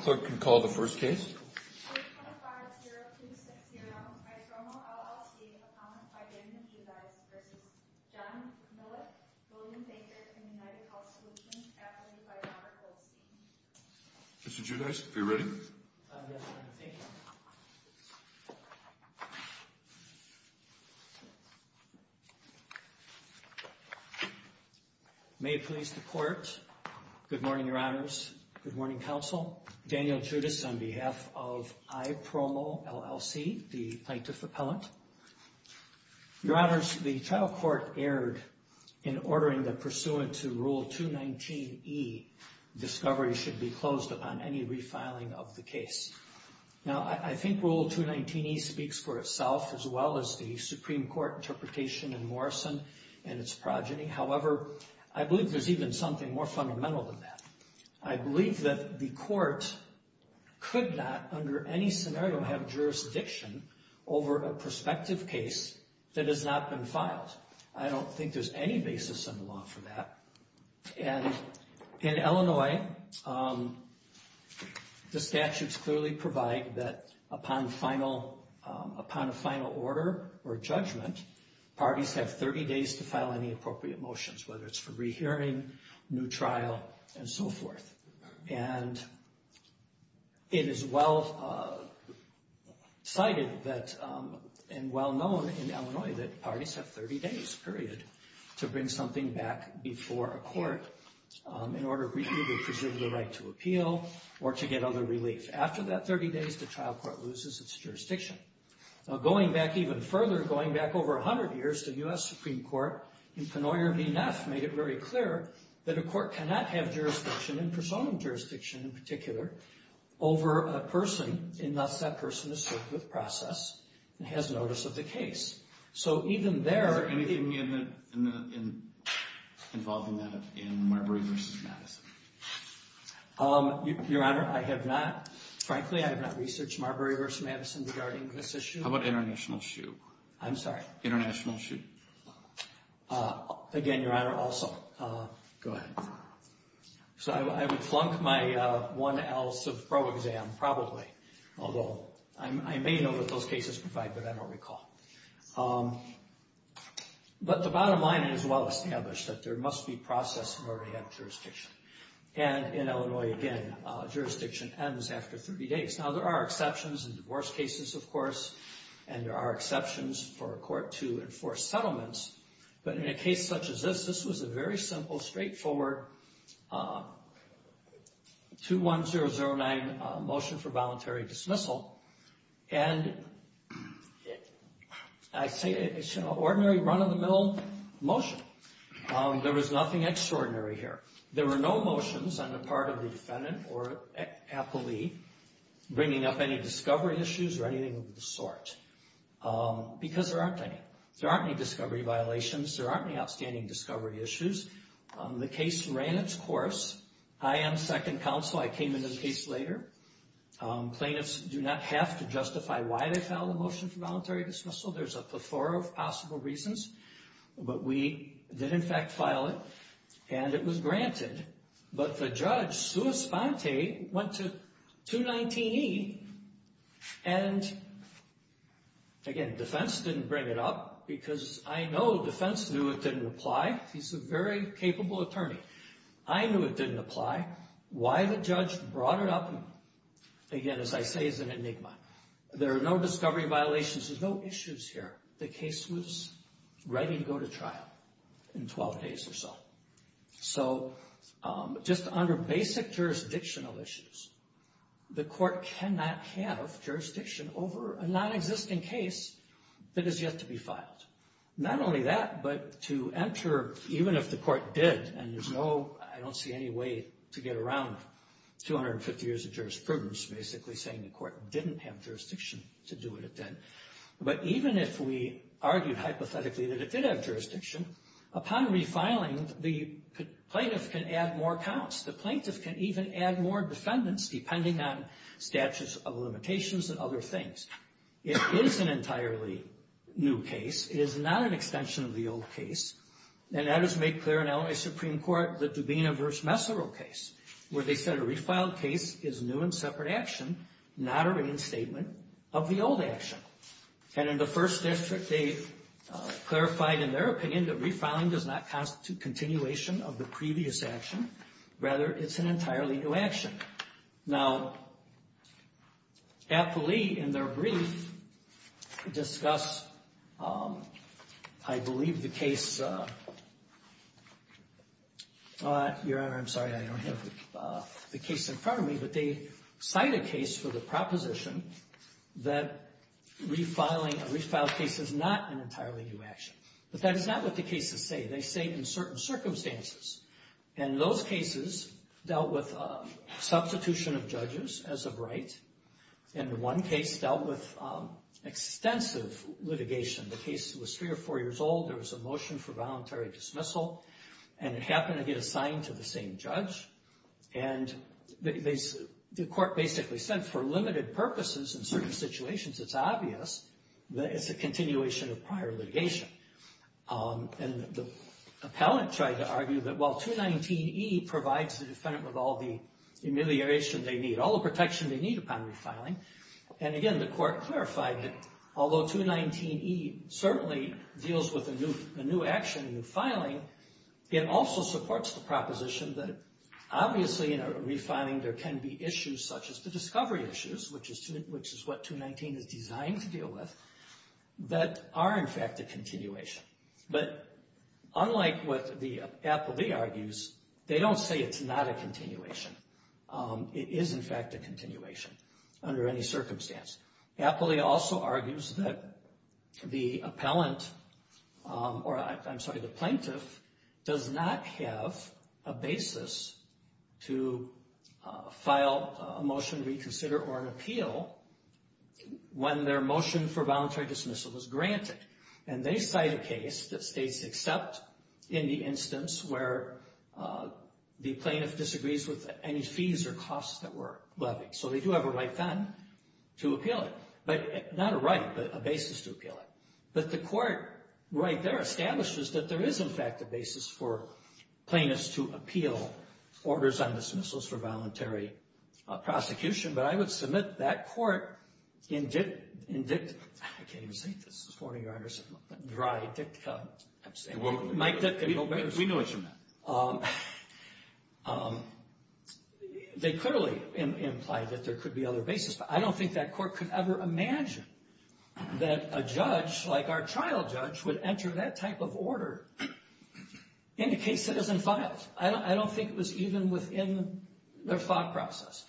Clerk can call the first case. Mr. Giudice, are you ready? May it please the Court. Good morning, Your Honors. Good morning, Counsel. Daniel Giudice on behalf of IPROMO, LLC, the Plaintiff Appellant. Your Honors, the trial court erred in ordering that pursuant to Rule 219e, discovery should be closed upon any refiling of the case. Now, I think Rule 219e speaks for itself as well as the Supreme Court interpretation in Morrison and its progeny. However, I believe there's even something more fundamental than that. I believe that the Court could not, under any scenario, have jurisdiction over a prospective case that has not been filed. I don't think there's any basis in the law for that. And in Illinois, the statutes clearly provide that upon a final order or judgment, parties have 30 days to file any appropriate motions, whether it's for rehearing, new trial, and so forth. And it is well cited that, and well known in Illinois, that parties have 30 days, period, to bring something back before a court in order to either preserve the right to appeal or to get other relief. After that 30 days, the trial court loses its jurisdiction. Now, going back even further, going back over 100 years, the U.S. Supreme Court in Penoyer v. Neff made it very clear that a court cannot have jurisdiction, and personal jurisdiction in particular, over a person unless that person is served with process and has notice of the case. So even there... Is there anything involving that in Marbury v. Madison? Your Honor, I have not, frankly, I have not researched Marbury v. Madison regarding this issue. How about International Shoe? I'm sorry? International Shoe? Again, Your Honor, also, go ahead. So I would flunk my 1L civ pro exam, probably, although I may know that those cases provide, but I don't recall. But the bottom line is well established that there must be process in order to have jurisdiction. And in Illinois, again, jurisdiction ends after 30 days. Now, there are exceptions in divorce cases, of course, and there are exceptions for a court to settlements. But in a case such as this, this was a very simple, straightforward 21009 motion for voluntary dismissal. And I say it's an ordinary run-of-the-mill motion. There was nothing extraordinary here. There were no motions on the part of the defendant or appellee bringing up any discovery issues or anything of the sort. Because there aren't any. There aren't any discovery violations. There aren't any outstanding discovery issues. The case ran its course. I am second counsel. I came into the case later. Plaintiffs do not have to justify why they filed a motion for voluntary dismissal. There's a plethora of possible reasons. But we did, in fact, file it, and it was granted. But the judge, Sue Esponte, went to 219E, and, again, defense didn't bring it up because I know defense knew it didn't apply. He's a very capable attorney. I knew it didn't apply. Why the judge brought it up, again, as I say, is an enigma. There are no discovery violations. There's no issues here. The case was ready to go to trial in 12 days or so. So just under basic jurisdictional issues, the court cannot have jurisdiction over a nonexisting case that is yet to be filed. Not only that, but to enter, even if the court did, and there's no, I don't see any way to get around 250 years of jurisprudence basically saying the court didn't have jurisdiction to do it then. But even if we argued hypothetically that it did have jurisdiction, upon refiling, the plaintiff can add more counts. The plaintiff can even add more defendants, depending on statutes of limitations and other things. It is an entirely new case. It is not an extension of the old case. And that is made clear in LA Supreme Court, the Dubena v. Messerle case, where they said a refiled case is new and separate action, not a reinstatement of the old action. And in the First District, they clarified, in their opinion, that refiling does not constitute continuation of the previous action. Rather, it's an entirely new action. Now, Appley, in their brief, discussed, I believe, the case Your Honor, I'm sorry, I don't have the case in front of me, but they cite a case for the proposition that refiling a refiled case is not an entirely new action. But that is not what the cases say. They say in certain circumstances. And those cases dealt with substitution of judges as of right. And the one case dealt with extensive litigation. The case was three or four years old. There was a motion for voluntary dismissal. And it happened to get assigned to the same judge. And the court basically said, for limited purposes in certain situations, it's obvious that it's a continuation of prior litigation. And the appellant tried to argue that, well, 219E provides the defendant with all the humiliation they need, all the protection they need upon refiling. And again, the court clarified that although 219E certainly deals with a new action, a new filing, it also supports the proposition that obviously in a refiling there can be issues such as the discovery issues, which is what 219 is designed to deal with, that are in fact a continuation. But unlike what the Appley argues, they don't say it's not a continuation. It is in fact a continuation under any circumstance. Appley also argues that the plaintiff does not have a basis to file a motion to reconsider or an appeal when their motion for voluntary dismissal is granted. And they cite a case that states except in the instance where the plaintiff has a basis to appeal it. Not a right, but a basis to appeal it. But the court right there establishes that there is in fact a basis for plaintiffs to appeal orders on dismissals for voluntary prosecution. But I would submit that court in dict... I can't even say this. This is a warning you're under some dry dictum. We know what you meant. They clearly implied that there could be other basis, but I don't think that court could ever imagine that a judge like our trial judge would enter that type of order in a case that isn't filed. I don't think it was even within their thought process.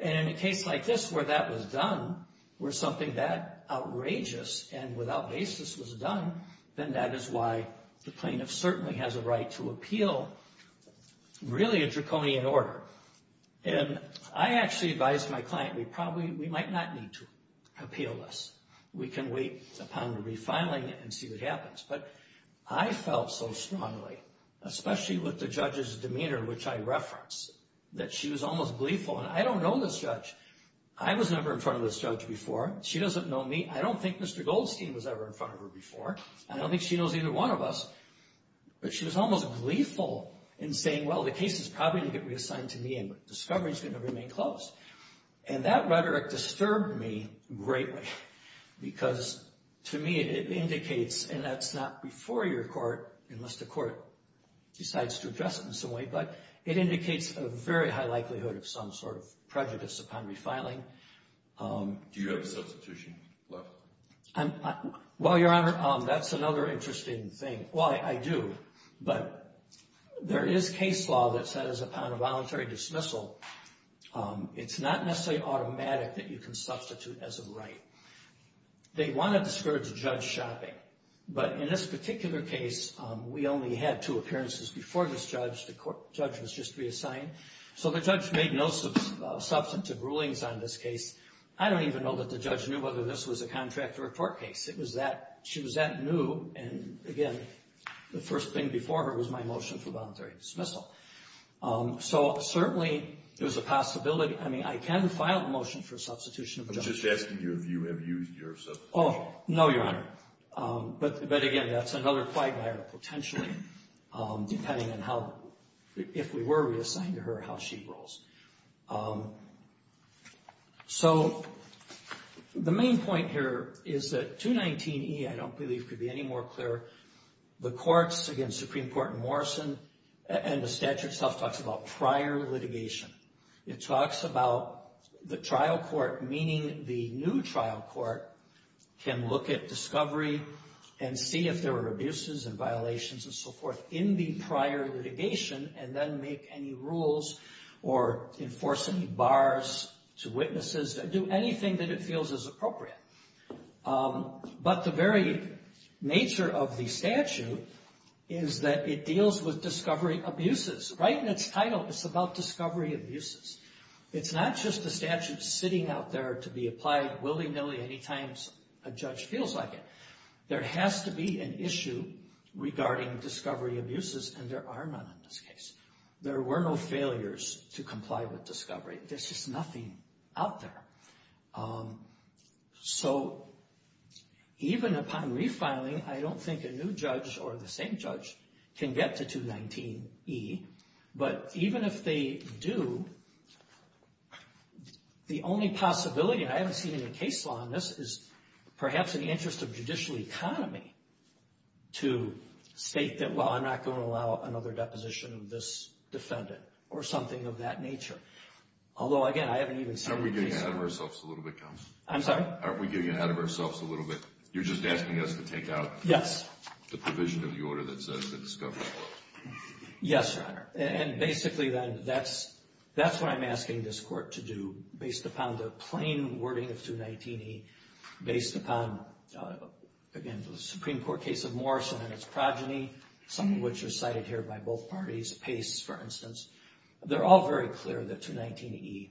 And in a case like this where that was done, where something that outrageous and without basis was done, then that is why the plaintiff certainly has a right to appeal really a draconian order. And I actually advised my client we probably... we might not need to appeal this. We can wait upon the refiling and see what happens. But I felt so strongly, especially with the judge's demeanor, in which I referenced, that she was almost gleeful. And I don't know this judge. I was never in front of this judge before. She doesn't know me. I don't think Mr. Goldstein was ever in front of her before. I don't think she knows either one of us. But she was almost gleeful in saying, well, the case is probably going to get reassigned to me and the discovery is going to remain closed. And that rhetoric disturbed me greatly because to me it indicates, and that's not before your court unless the court decides to address it in some way, but it indicates a very high likelihood of some sort of prejudice upon refiling. Do you have a substitution left? Well, Your Honor, that's another interesting thing. Well, I do. But there is case law that says upon a voluntary dismissal, it's not necessarily automatic that you can substitute as a right. They want to discourage judge shopping. Right. But in this particular case, we only had two appearances before this judge. The judge was just reassigned. So the judge made no substantive rulings on this case. I don't even know that the judge knew whether this was a contract or a court case. She was that new. And again, the first thing before her was my motion for voluntary dismissal. So certainly there's a possibility. I mean, I can file a motion for substitution. I'm just asking you if you have used your substitution. Oh, no, Your Honor. But again, that's another quagmire potentially, depending on how, if we were reassigned to her, how she rolls. So the main point here is that 219E, I don't believe could be any more clear. The courts against Supreme Court in Morrison and the statute itself talks about prior litigation. It talks about the trial court, meaning the new trial court can look at discovery and see if there are abuses and violations and so forth in the prior litigation and then make any rules or enforce any bars to witnesses, do anything that it feels is appropriate. But the very nature of the statute is that it deals with discovery abuses. Right in its title, it's about discovery abuses. It's not just the statute sitting out there to be applied willy-nilly any time a judge feels like it. There has to be an issue regarding discovery abuses, and there are none in this case. There were no failures to comply with discovery. There's just nothing out there. So even upon refiling, I don't think a new judge or the same judge can get to 219E. But even if they do, the only possibility, and I haven't seen any case law on this, is perhaps in the interest of judicial economy to state that, well, I'm not going to allow another deposition of this defendant or something of that nature. Although, again, I haven't even seen a case law. Aren't we getting ahead of ourselves a little bit, counsel? I'm sorry? Aren't we getting ahead of ourselves a little bit? You're just asking us to take out the provision of the order that says discovery. Yes, Your Honor. And basically, then, that's what I'm asking this court to do based upon the plain wording of 219E, based upon, again, the Supreme Court case of Morrison and its progeny, some of which are cited here by both parties, Pace, for instance, they're all very clear that 219E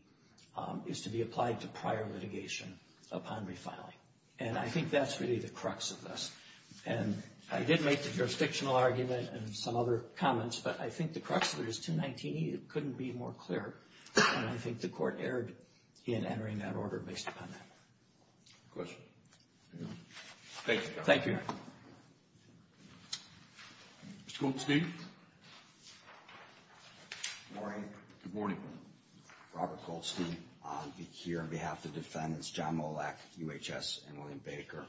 is to be applied to prior litigation upon refiling. And I think that's really the crux of this. And I did make the jurisdictional argument and some other comments, but I think the crux of it is 219E, it couldn't be more clear, and I think the court erred in entering that order based upon that. Questions? Thank you, Your Honor. Thank you, Your Honor. Mr. Goldstein? Good morning. Good morning. Robert Goldstein here on behalf of the defendants, John Molek, UHS, and William Baker.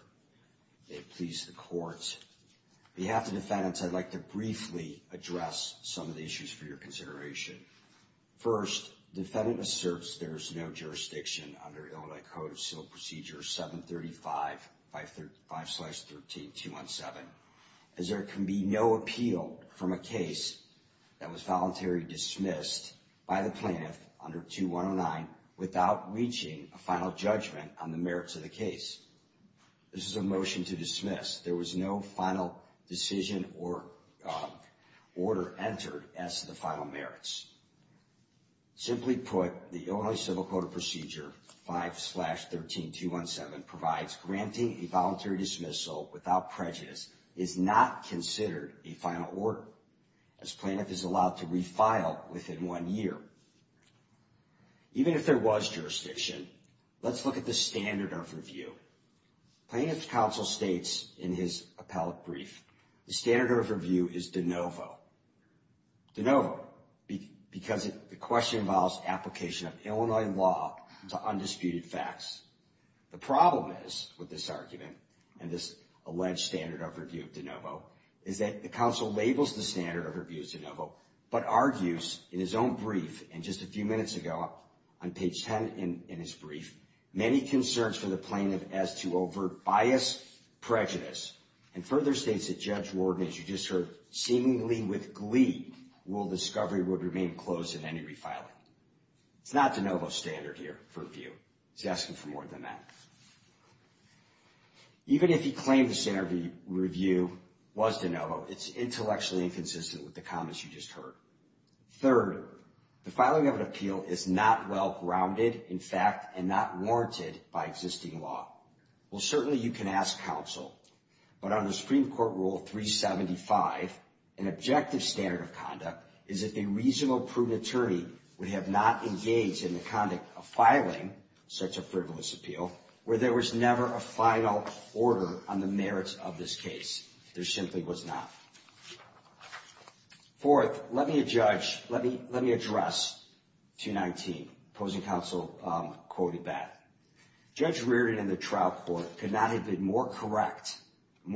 May it please the court. On behalf of the defendants, I'd like to briefly address some of the issues for your consideration. First, the defendant asserts there is no jurisdiction under Illinois Code of Civil Procedure 735-513-217. As there can be no appeal from a case that was voluntarily dismissed by the plaintiff under 2109 without reaching a final judgment on the merits of the case. This is a motion to dismiss. There was no final decision or order entered as to the final merits. Simply put, the Illinois Civil Code of Procedure 5-13-217 that provides granting a voluntary dismissal without prejudice is not considered a final order as plaintiff is allowed to refile within one year. Even if there was jurisdiction, let's look at the standard overview. Plaintiff's counsel states in his appellate brief, the standard overview is de novo. De novo, because the question involves application of Illinois law to undisputed facts. The problem is, with this argument and this alleged standard overview of de novo, is that the counsel labels the standard overview as de novo, but argues in his own brief, and just a few minutes ago on page 10 in his brief, many concerns for the plaintiff as to overt bias, prejudice, and further states that Judge Warden, as you just heard, seemingly with glee, will discovery would remain closed in any refiling. It's not de novo standard here for review. He's asking for more than that. Even if he claimed the standard review was de novo, it's intellectually inconsistent with the comments you just heard. Third, the filing of an appeal is not well-grounded, in fact, and not warranted by existing law. Well, certainly you can ask counsel, but under Supreme Court Rule 375, an objective standard of conduct is if a reasonable, prudent attorney would have not engaged in the conduct of filing such a frivolous appeal, where there was never a final order on the merits of this case. There simply was not. Fourth, let me address 219, opposing counsel quoted that. Judge Reardon in the trial court could not have been more correct in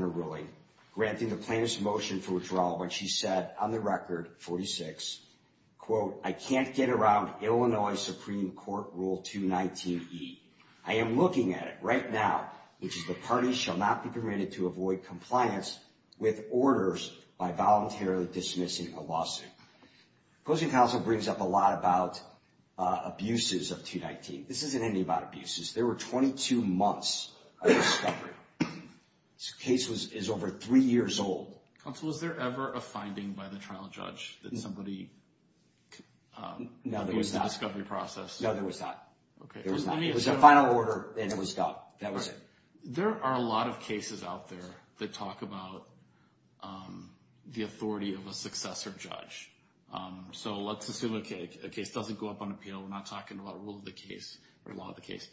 her ruling, granting the plaintiff's motion for withdrawal when she said, on the record, 46, quote, I can't get around Illinois Supreme Court Rule 219E. I am looking at it right now, which is the party shall not be permitted to avoid compliance with orders by voluntarily dismissing a lawsuit. Opposing counsel brings up a lot about abuses of 219. This isn't anything about abuses. There were 22 months of discovery. This case is over three years old. Counsel, was there ever a finding by the trial judge that somebody was in the discovery process? No, there was not. There was not. It was a final order, and it was stopped. That was it. There are a lot of cases out there that talk about the authority of a successor judge. So let's assume a case doesn't go up on appeal. We're not talking about rule of the case or law of the case.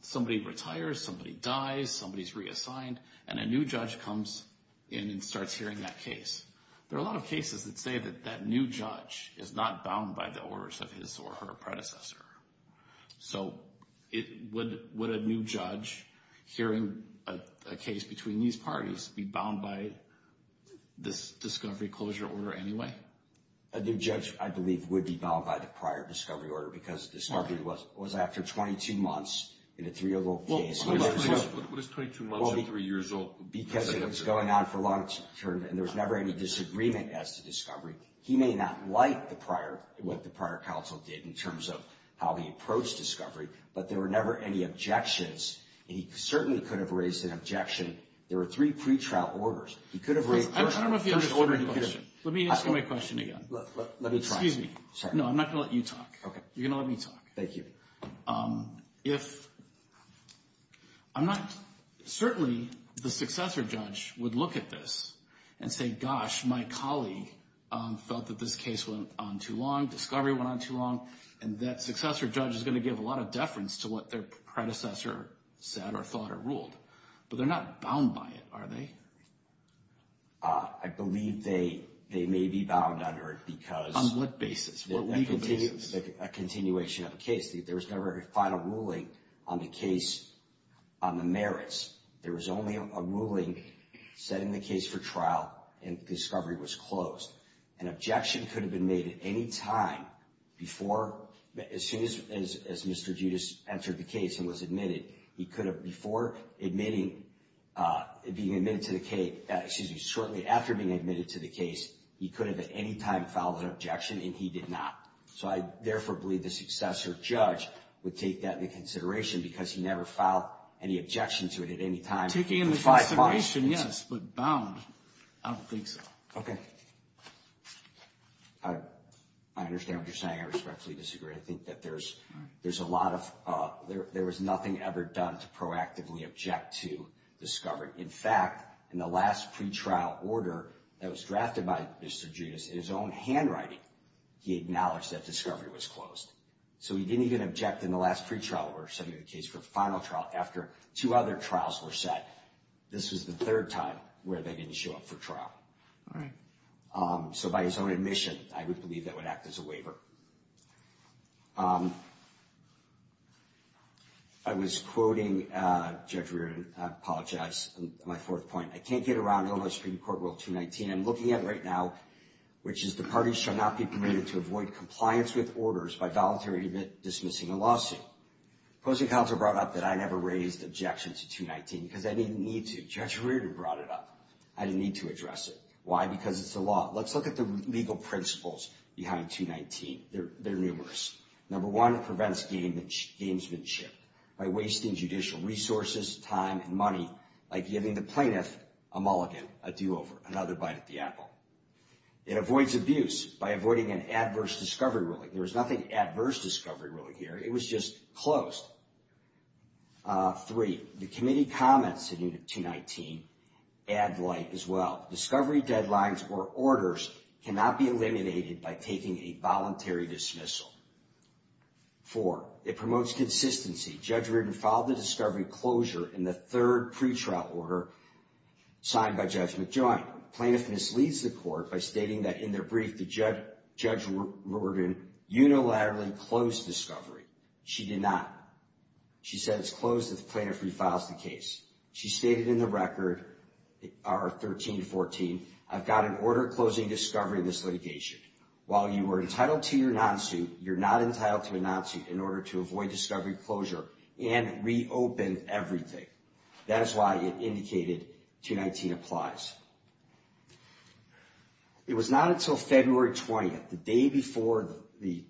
Somebody retires, somebody dies, somebody's reassigned, and a new judge comes in and starts hearing that case. There are a lot of cases that say that that new judge is not bound by the orders of his or her predecessor. So would a new judge hearing a case between these parties be bound by this discovery closure order anyway? A new judge, I believe, would be bound by the prior discovery order because discovery was after 22 months in a three-year-old case. What is 22 months and three years old? Because it was going on for long term, and there was never any disagreement as to discovery. He may not like the prior, what the prior counsel did in terms of how he approached discovery, but there were never any objections, and he certainly could have raised an objection. There were three pretrial orders. I don't know if you understood my question. Let me ask you my question again. Excuse me. No, I'm not going to let you talk. Okay. You're going to let me talk. Thank you. Certainly, the successor judge would look at this and say, gosh, my colleague felt that this case went on too long, discovery went on too long, and that successor judge is going to give a lot of deference to what their predecessor said or thought or ruled. But they're not bound by it, are they? I believe they may be bound under it because On what basis? A continuation of a case. There was never a final ruling on the case on the merits. There was only a ruling setting the case for trial, and discovery was closed. An objection could have been made at any time before, as soon as Mr. Judas entered the case and was admitted, he could have before being admitted to the case, excuse me, shortly after being admitted to the case, he could have at any time filed an objection, and he did not. So I therefore believe the successor judge would take that into consideration because he never filed any objection to it at any time. Taking into consideration, yes, but bound. I don't think so. Okay. I understand what you're saying. I respectfully disagree. I think that there's a lot of, there was nothing ever done to proactively object to discovery. In fact, in the last pretrial order that was drafted by Mr. Judas, in his own handwriting, he acknowledged that discovery was closed. So he didn't even object in the last pretrial order setting the case for final trial after two other trials were set. This was the third time where they didn't show up for trial. All right. So by his own admission, I would believe that would act as a waiver. I was quoting Judge Reardon. My fourth point. I can't get around Illinois Supreme Court Rule 219. I'm looking at right now, which is the parties shall not be permitted to avoid compliance with orders by voluntary dismissing a lawsuit. The opposing counsel brought up that I never raised objection to 219 because I didn't need to. Judge Reardon brought it up. I didn't need to address it. Why? Because it's the law. Let's look at the legal principles behind 219. They're numerous. Number one, it prevents gamesmanship by wasting judicial resources, time, and money, like giving the plaintiff a mulligan, a do-over, another bite at the apple. It avoids abuse by avoiding an adverse discovery ruling. There was nothing adverse discovery ruling here. It was just closed. Three, the committee comments in 219 add light as well. Discovery deadlines or orders cannot be eliminated by taking a voluntary dismissal. Four, it promotes consistency. Judge Reardon filed the discovery closure in the third pretrial order signed by Judge McJoint. Plaintiff misleads the court by stating that in their brief, Judge Reardon unilaterally closed discovery. She did not. She said it's closed if the plaintiff refiles the case. She stated in the record, 13-14, I've got an order closing discovery in this litigation. While you are entitled to your non-suit, you're not entitled to a non-suit in order to avoid discovery closure and reopen everything. That is why it indicated 219 applies. It was not until February 20th, the day before the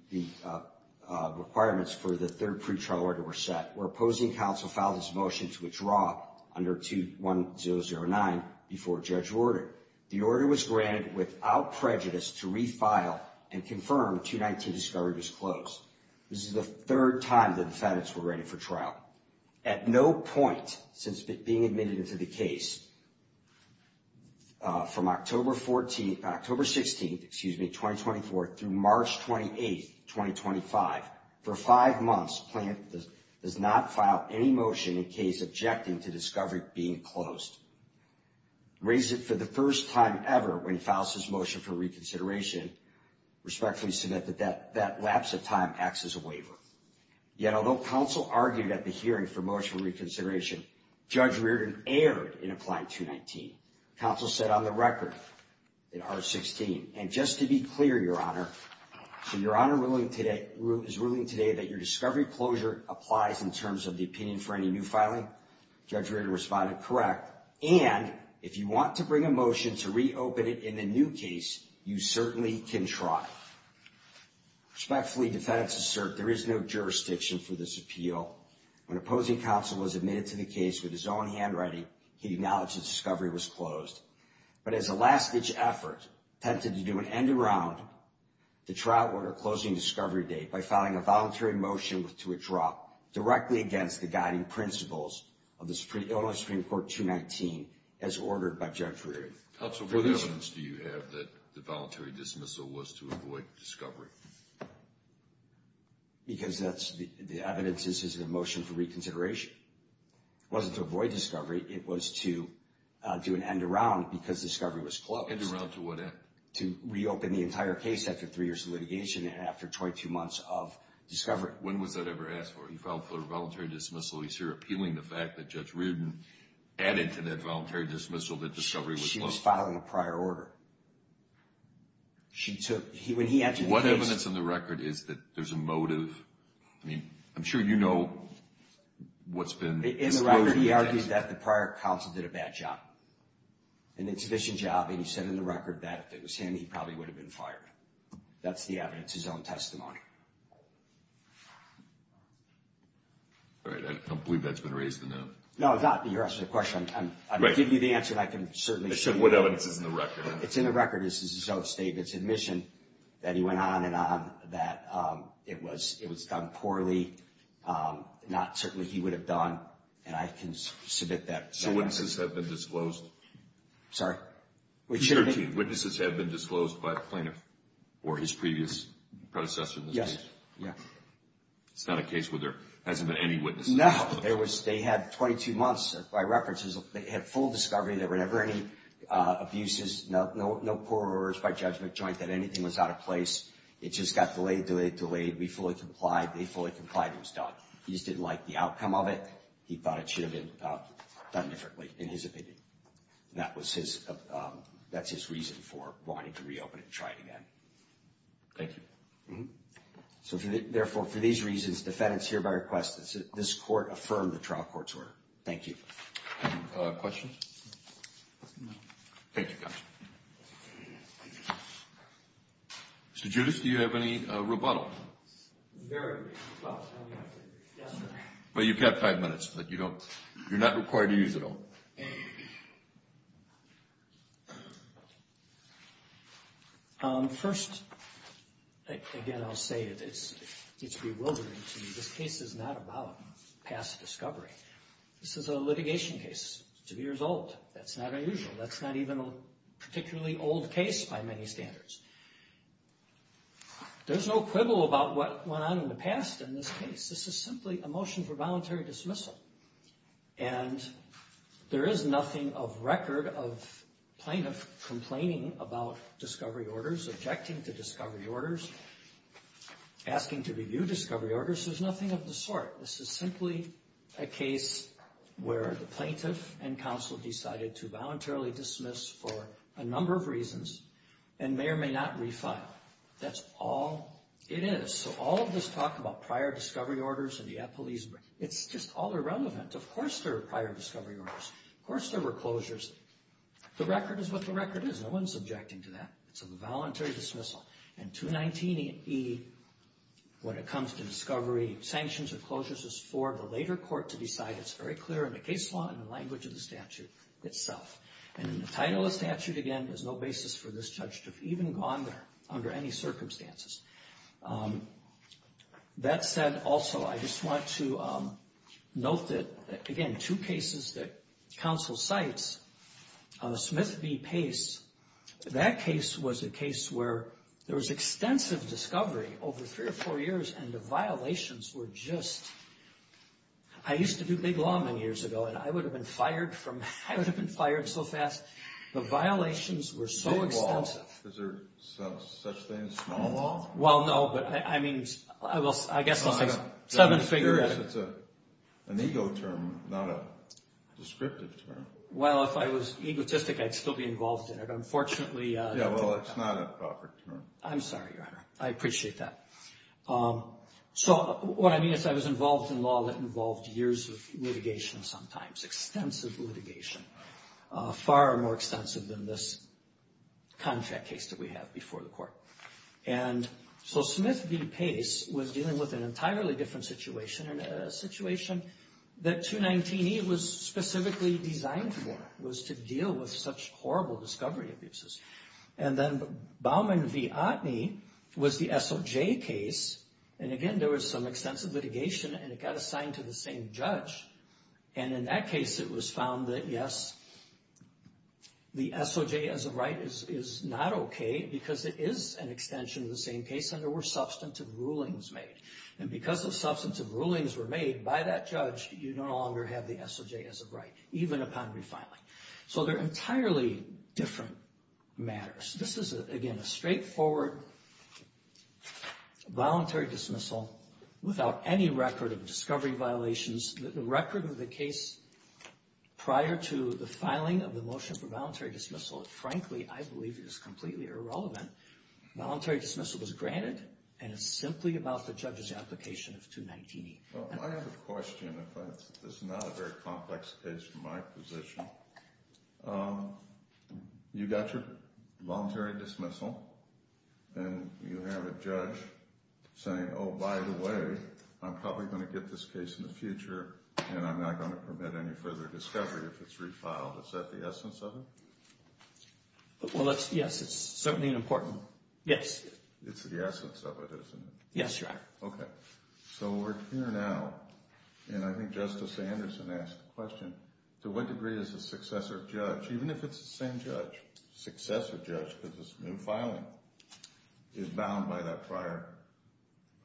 requirements for the third pretrial order were set, where opposing counsel filed his motion to withdraw under 2109 before Judge Reardon. The order was granted without prejudice to refile and confirm 219 discovery was closed. This is the third time the defendants were granted for trial. At no point since being admitted into the case from October 14th, October 16th, excuse me, 2024, through March 28th, 2025, for five months, plaintiff does not file any motion in case objecting to discovery being closed. Raises it for the first time ever when he files his motion for reconsideration, respectfully submit that that lapse of time acts as a waiver. Yet although counsel argued at the hearing for motion reconsideration, Judge Reardon erred in applying 219. Counsel said on the record in R16, and just to be clear, Your Honor, so Your Honor ruling today is ruling today that your discovery closure applies in terms of the opinion for any new filing. Judge Reardon responded, correct. And if you want to bring a motion to reopen it in the new case, you certainly can try. Respectfully, defendants assert there is no jurisdiction for this appeal. When opposing counsel was admitted to the case with his own handwriting, he acknowledged that discovery was closed. But as a last ditch effort, attempted to do an end around the trial order closing discovery date by filing a voluntary motion to withdraw directly against the guiding principles of the Supreme Court 219 as ordered by Judge Reardon. Counsel, what evidence do you have that the voluntary dismissal was to avoid discovery? Because that's the evidence. This is a motion for reconsideration. It wasn't to avoid discovery. It was to do an end around because discovery was closed. End around to what end? To reopen the entire case after three years of litigation and after 22 months of discovery. When was that ever asked for? He filed for a voluntary dismissal. He's here appealing the fact that Judge Reardon added to that voluntary dismissal that discovery was closed. She was filing a prior order. What evidence on the record is that there's a motive? I mean, I'm sure you know what's been disclosed in the case. In the record, he argues that the prior counsel did a bad job, an insufficient job, and he said in the record that if it was him, he probably would have been fired. That's the evidence, his own testimony. All right. I don't believe that's been raised enough. No, it's not. You're asking the question. I'm giving you the answer, and I can certainly show you the evidence. The evidence is in the record. It's in the record. This is his own statement. It's admission that he went on and on that it was done poorly, not certainly he would have done, and I can submit that. So witnesses have been disclosed? Sorry? He's 13. Witnesses have been disclosed by a plaintiff or his previous predecessor in this case? Yes. Yeah. It's not a case where there hasn't been any witnesses? No. They had 22 months by reference. They had full discovery. There were never any abuses, no poor or errors by judgment, joint, that anything was out of place. It just got delayed, delayed, delayed. We fully complied. They fully complied. It was done. He just didn't like the outcome of it. He thought it should have been done differently, in his opinion. And that's his reason for wanting to reopen it and try it again. Thank you. So therefore, for these reasons, defendants hereby request that this court affirm the trial court's order. Thank you. Any questions? No. Thank you, counsel. Mr. Giudice, do you have any rebuttal? Very briefly. Well, you've got five minutes, but you're not required to use it all. First, again, I'll say it's bewildering to me. This case is not about past discovery. This is a litigation case. It's two years old. That's not unusual. That's not even a particularly old case by many standards. There's no quibble about what went on in the past in this case. This is simply a motion for voluntary dismissal. And there is nothing of record of plaintiff complaining about discovery orders, objecting to discovery orders, asking to review discovery orders. There's nothing of the sort. This is simply a case where the plaintiff and counsel decided to voluntarily dismiss for a number of reasons and may or may not refile. That's all it is. So all of this talk about prior discovery orders and the police, it's just all irrelevant. Of course there were prior discovery orders. Of course there were closures. The record is what the record is. No one's objecting to that. It's a voluntary dismissal. And 219E, when it comes to discovery, sanctions or closures is for the later court to decide. It's very clear in the case law and the language of the statute itself. And in the title of statute, again, there's no basis for this judge to have even gone there under any circumstances. That said, also, I just want to note that, again, two cases that counsel cites, Smith v. Pace, that case was a case where there was extensive discovery over three or four years and the violations were just, I used to do big law many years ago and I would have been fired so fast. The violations were so extensive. Is there such thing as small law? Well, no, but I mean, I guess I'll say seven figure. I'm just curious. It's an ego term, not a descriptive term. Well, if I was egotistic, I'd still be involved in it. Unfortunately. Yeah, well, it's not a proper term. I'm sorry, Your Honor. I appreciate that. So what I mean is I was involved in law that involved years of litigation sometimes, extensive litigation, far more extensive than this contract case that we have before the court. And so Smith v. Pace was dealing with an entirely different situation and a situation that 219E was specifically designed for, was to deal with such horrible discovery abuses. And then Baumann v. Otney was the SOJ case. And again, there was some extensive litigation and it got assigned to the same judge. And in that case, it was found that, yes, the SOJ as a right is not okay because it is an extension of the same case and there were substantive rulings made. And because those substantive rulings were made by that judge, you no longer have the SOJ as a right, even upon refiling. So they're entirely different matters. This is, again, a straightforward voluntary dismissal without any record of discovery violations. The record of the case prior to the filing of the motion for voluntary dismissal, frankly, I believe is completely irrelevant. Voluntary dismissal was granted and it's simply about the judge's application of 219E. Well, I have a question. This is not a very complex case from my position. You got your voluntary dismissal and you have a judge saying, oh, by the way, I'm probably going to get this case in the future and I'm not going to permit any further discovery if it's refiled. Is that the essence of it? Well, yes, it's certainly important. Yes. It's the essence of it, isn't it? Yes, Your Honor. Okay. So we're here now and I think Justice Anderson asked the question, to what degree is the successor judge, even if it's the same judge, successor judge because it's new filing, is bound by that prior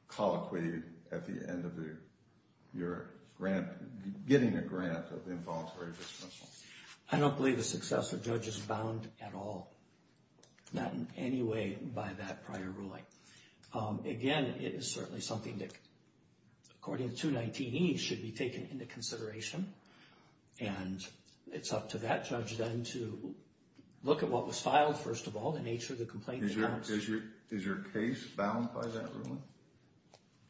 colloquy at the end of your grant, getting a grant of involuntary dismissal? I don't believe the successor judge is bound at all, not in any way by that prior ruling. Again, it is certainly something that, according to 219E, should be taken into consideration. And it's up to that judge then to look at what was filed, first of all, the nature of the complaint. Is your case bound by that ruling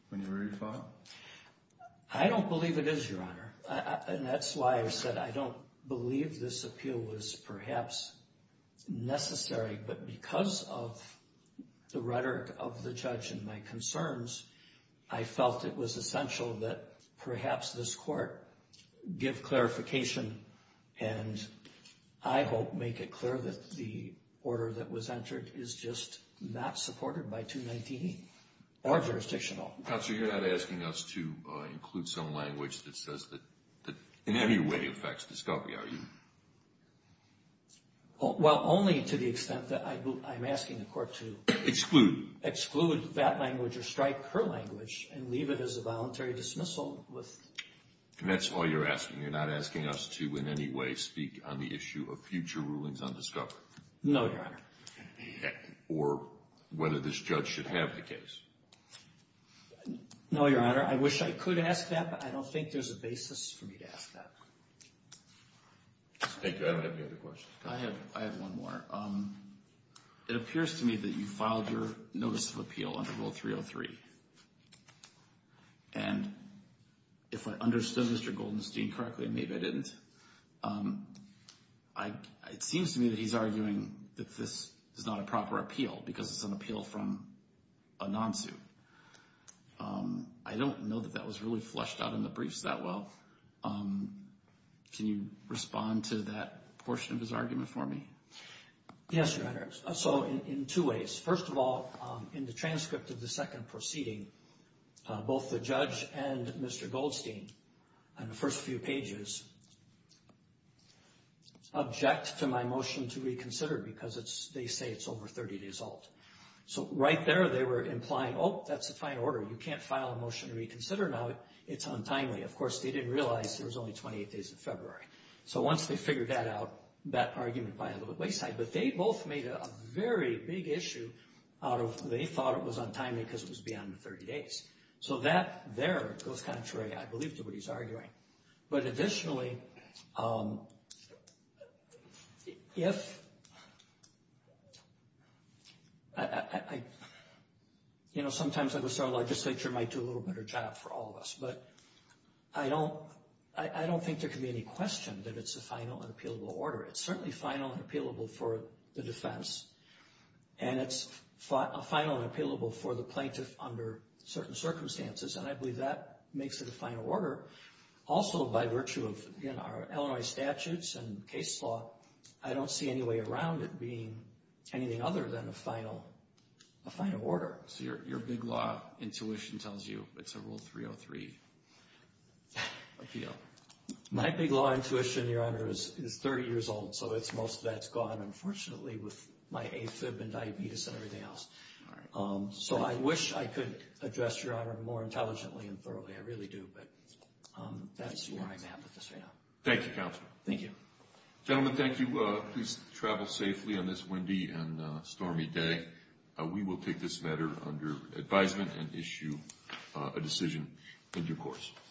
when you refile? I don't believe it is, Your Honor. And that's why I said I don't believe this appeal was perhaps necessary, but because of the rhetoric of the judge and my concerns, I felt it was essential that perhaps this court give clarification and I hope make it clear that the order that was entered is just not supported by 219E or jurisdictional. Counselor, you're not asking us to include some language that says that in any way affects discovery, are you? Well, only to the extent that I'm asking the court to exclude that language or strike her language and leave it as a voluntary dismissal. And that's all you're asking. You're not asking us to in any way speak on the issue of future rulings on discovery? No, Your Honor. Or whether this judge should have the case? No, Your Honor. I wish I could ask that, but I don't think there's a basis for me to ask that. Thank you. I don't have any other questions. I have one more. It appears to me that you filed your notice of appeal under Rule 303. And if I understood Mr. Goldenstein correctly, maybe I didn't, it seems to me that he's arguing that this is not a proper appeal because it's an appeal from a non-suit. I don't know that that was really flushed out in the briefs that well. Can you respond to that portion of his argument for me? Yes, Your Honor. So in two ways. First of all, in the transcript of the second proceeding, both the judge and Mr. Goldstein, in the first few pages, object to my motion to reconsider because they say it's over 30 days old. So right there they were implying, oh, that's a fine order. You can't file a motion to reconsider now. It's untimely. Of course, they didn't realize there was only 28 days of February. So once they figured that out, that argument by a little wayside. But they both made a very big issue out of they thought it was untimely because it was beyond the 30 days. So that there goes contrary, I believe, to what he's arguing. But additionally, if I, you know, sometimes I would say our legislature might do a little better job for all of us. But I don't think there can be any question that it's a final and appealable order. It's certainly final and appealable for the defense. And it's final and appealable for the plaintiff under certain circumstances. And I believe that makes it a final order. Also, by virtue of our Illinois statutes and case law, I don't see any way around it being anything other than a final order. So your big law intuition tells you it's a Rule 303 appeal. My big law intuition, Your Honor, is 30 years old. So most of that's gone, unfortunately, with my AFib and diabetes and everything else. So I wish I could address Your Honor more intelligently and thoroughly. I really do. But that's where I'm at with this right now. Thank you, Counselor. Thank you. Gentlemen, thank you. Please travel safely on this windy and stormy day. We will take this matter under advisement and issue a decision in due course.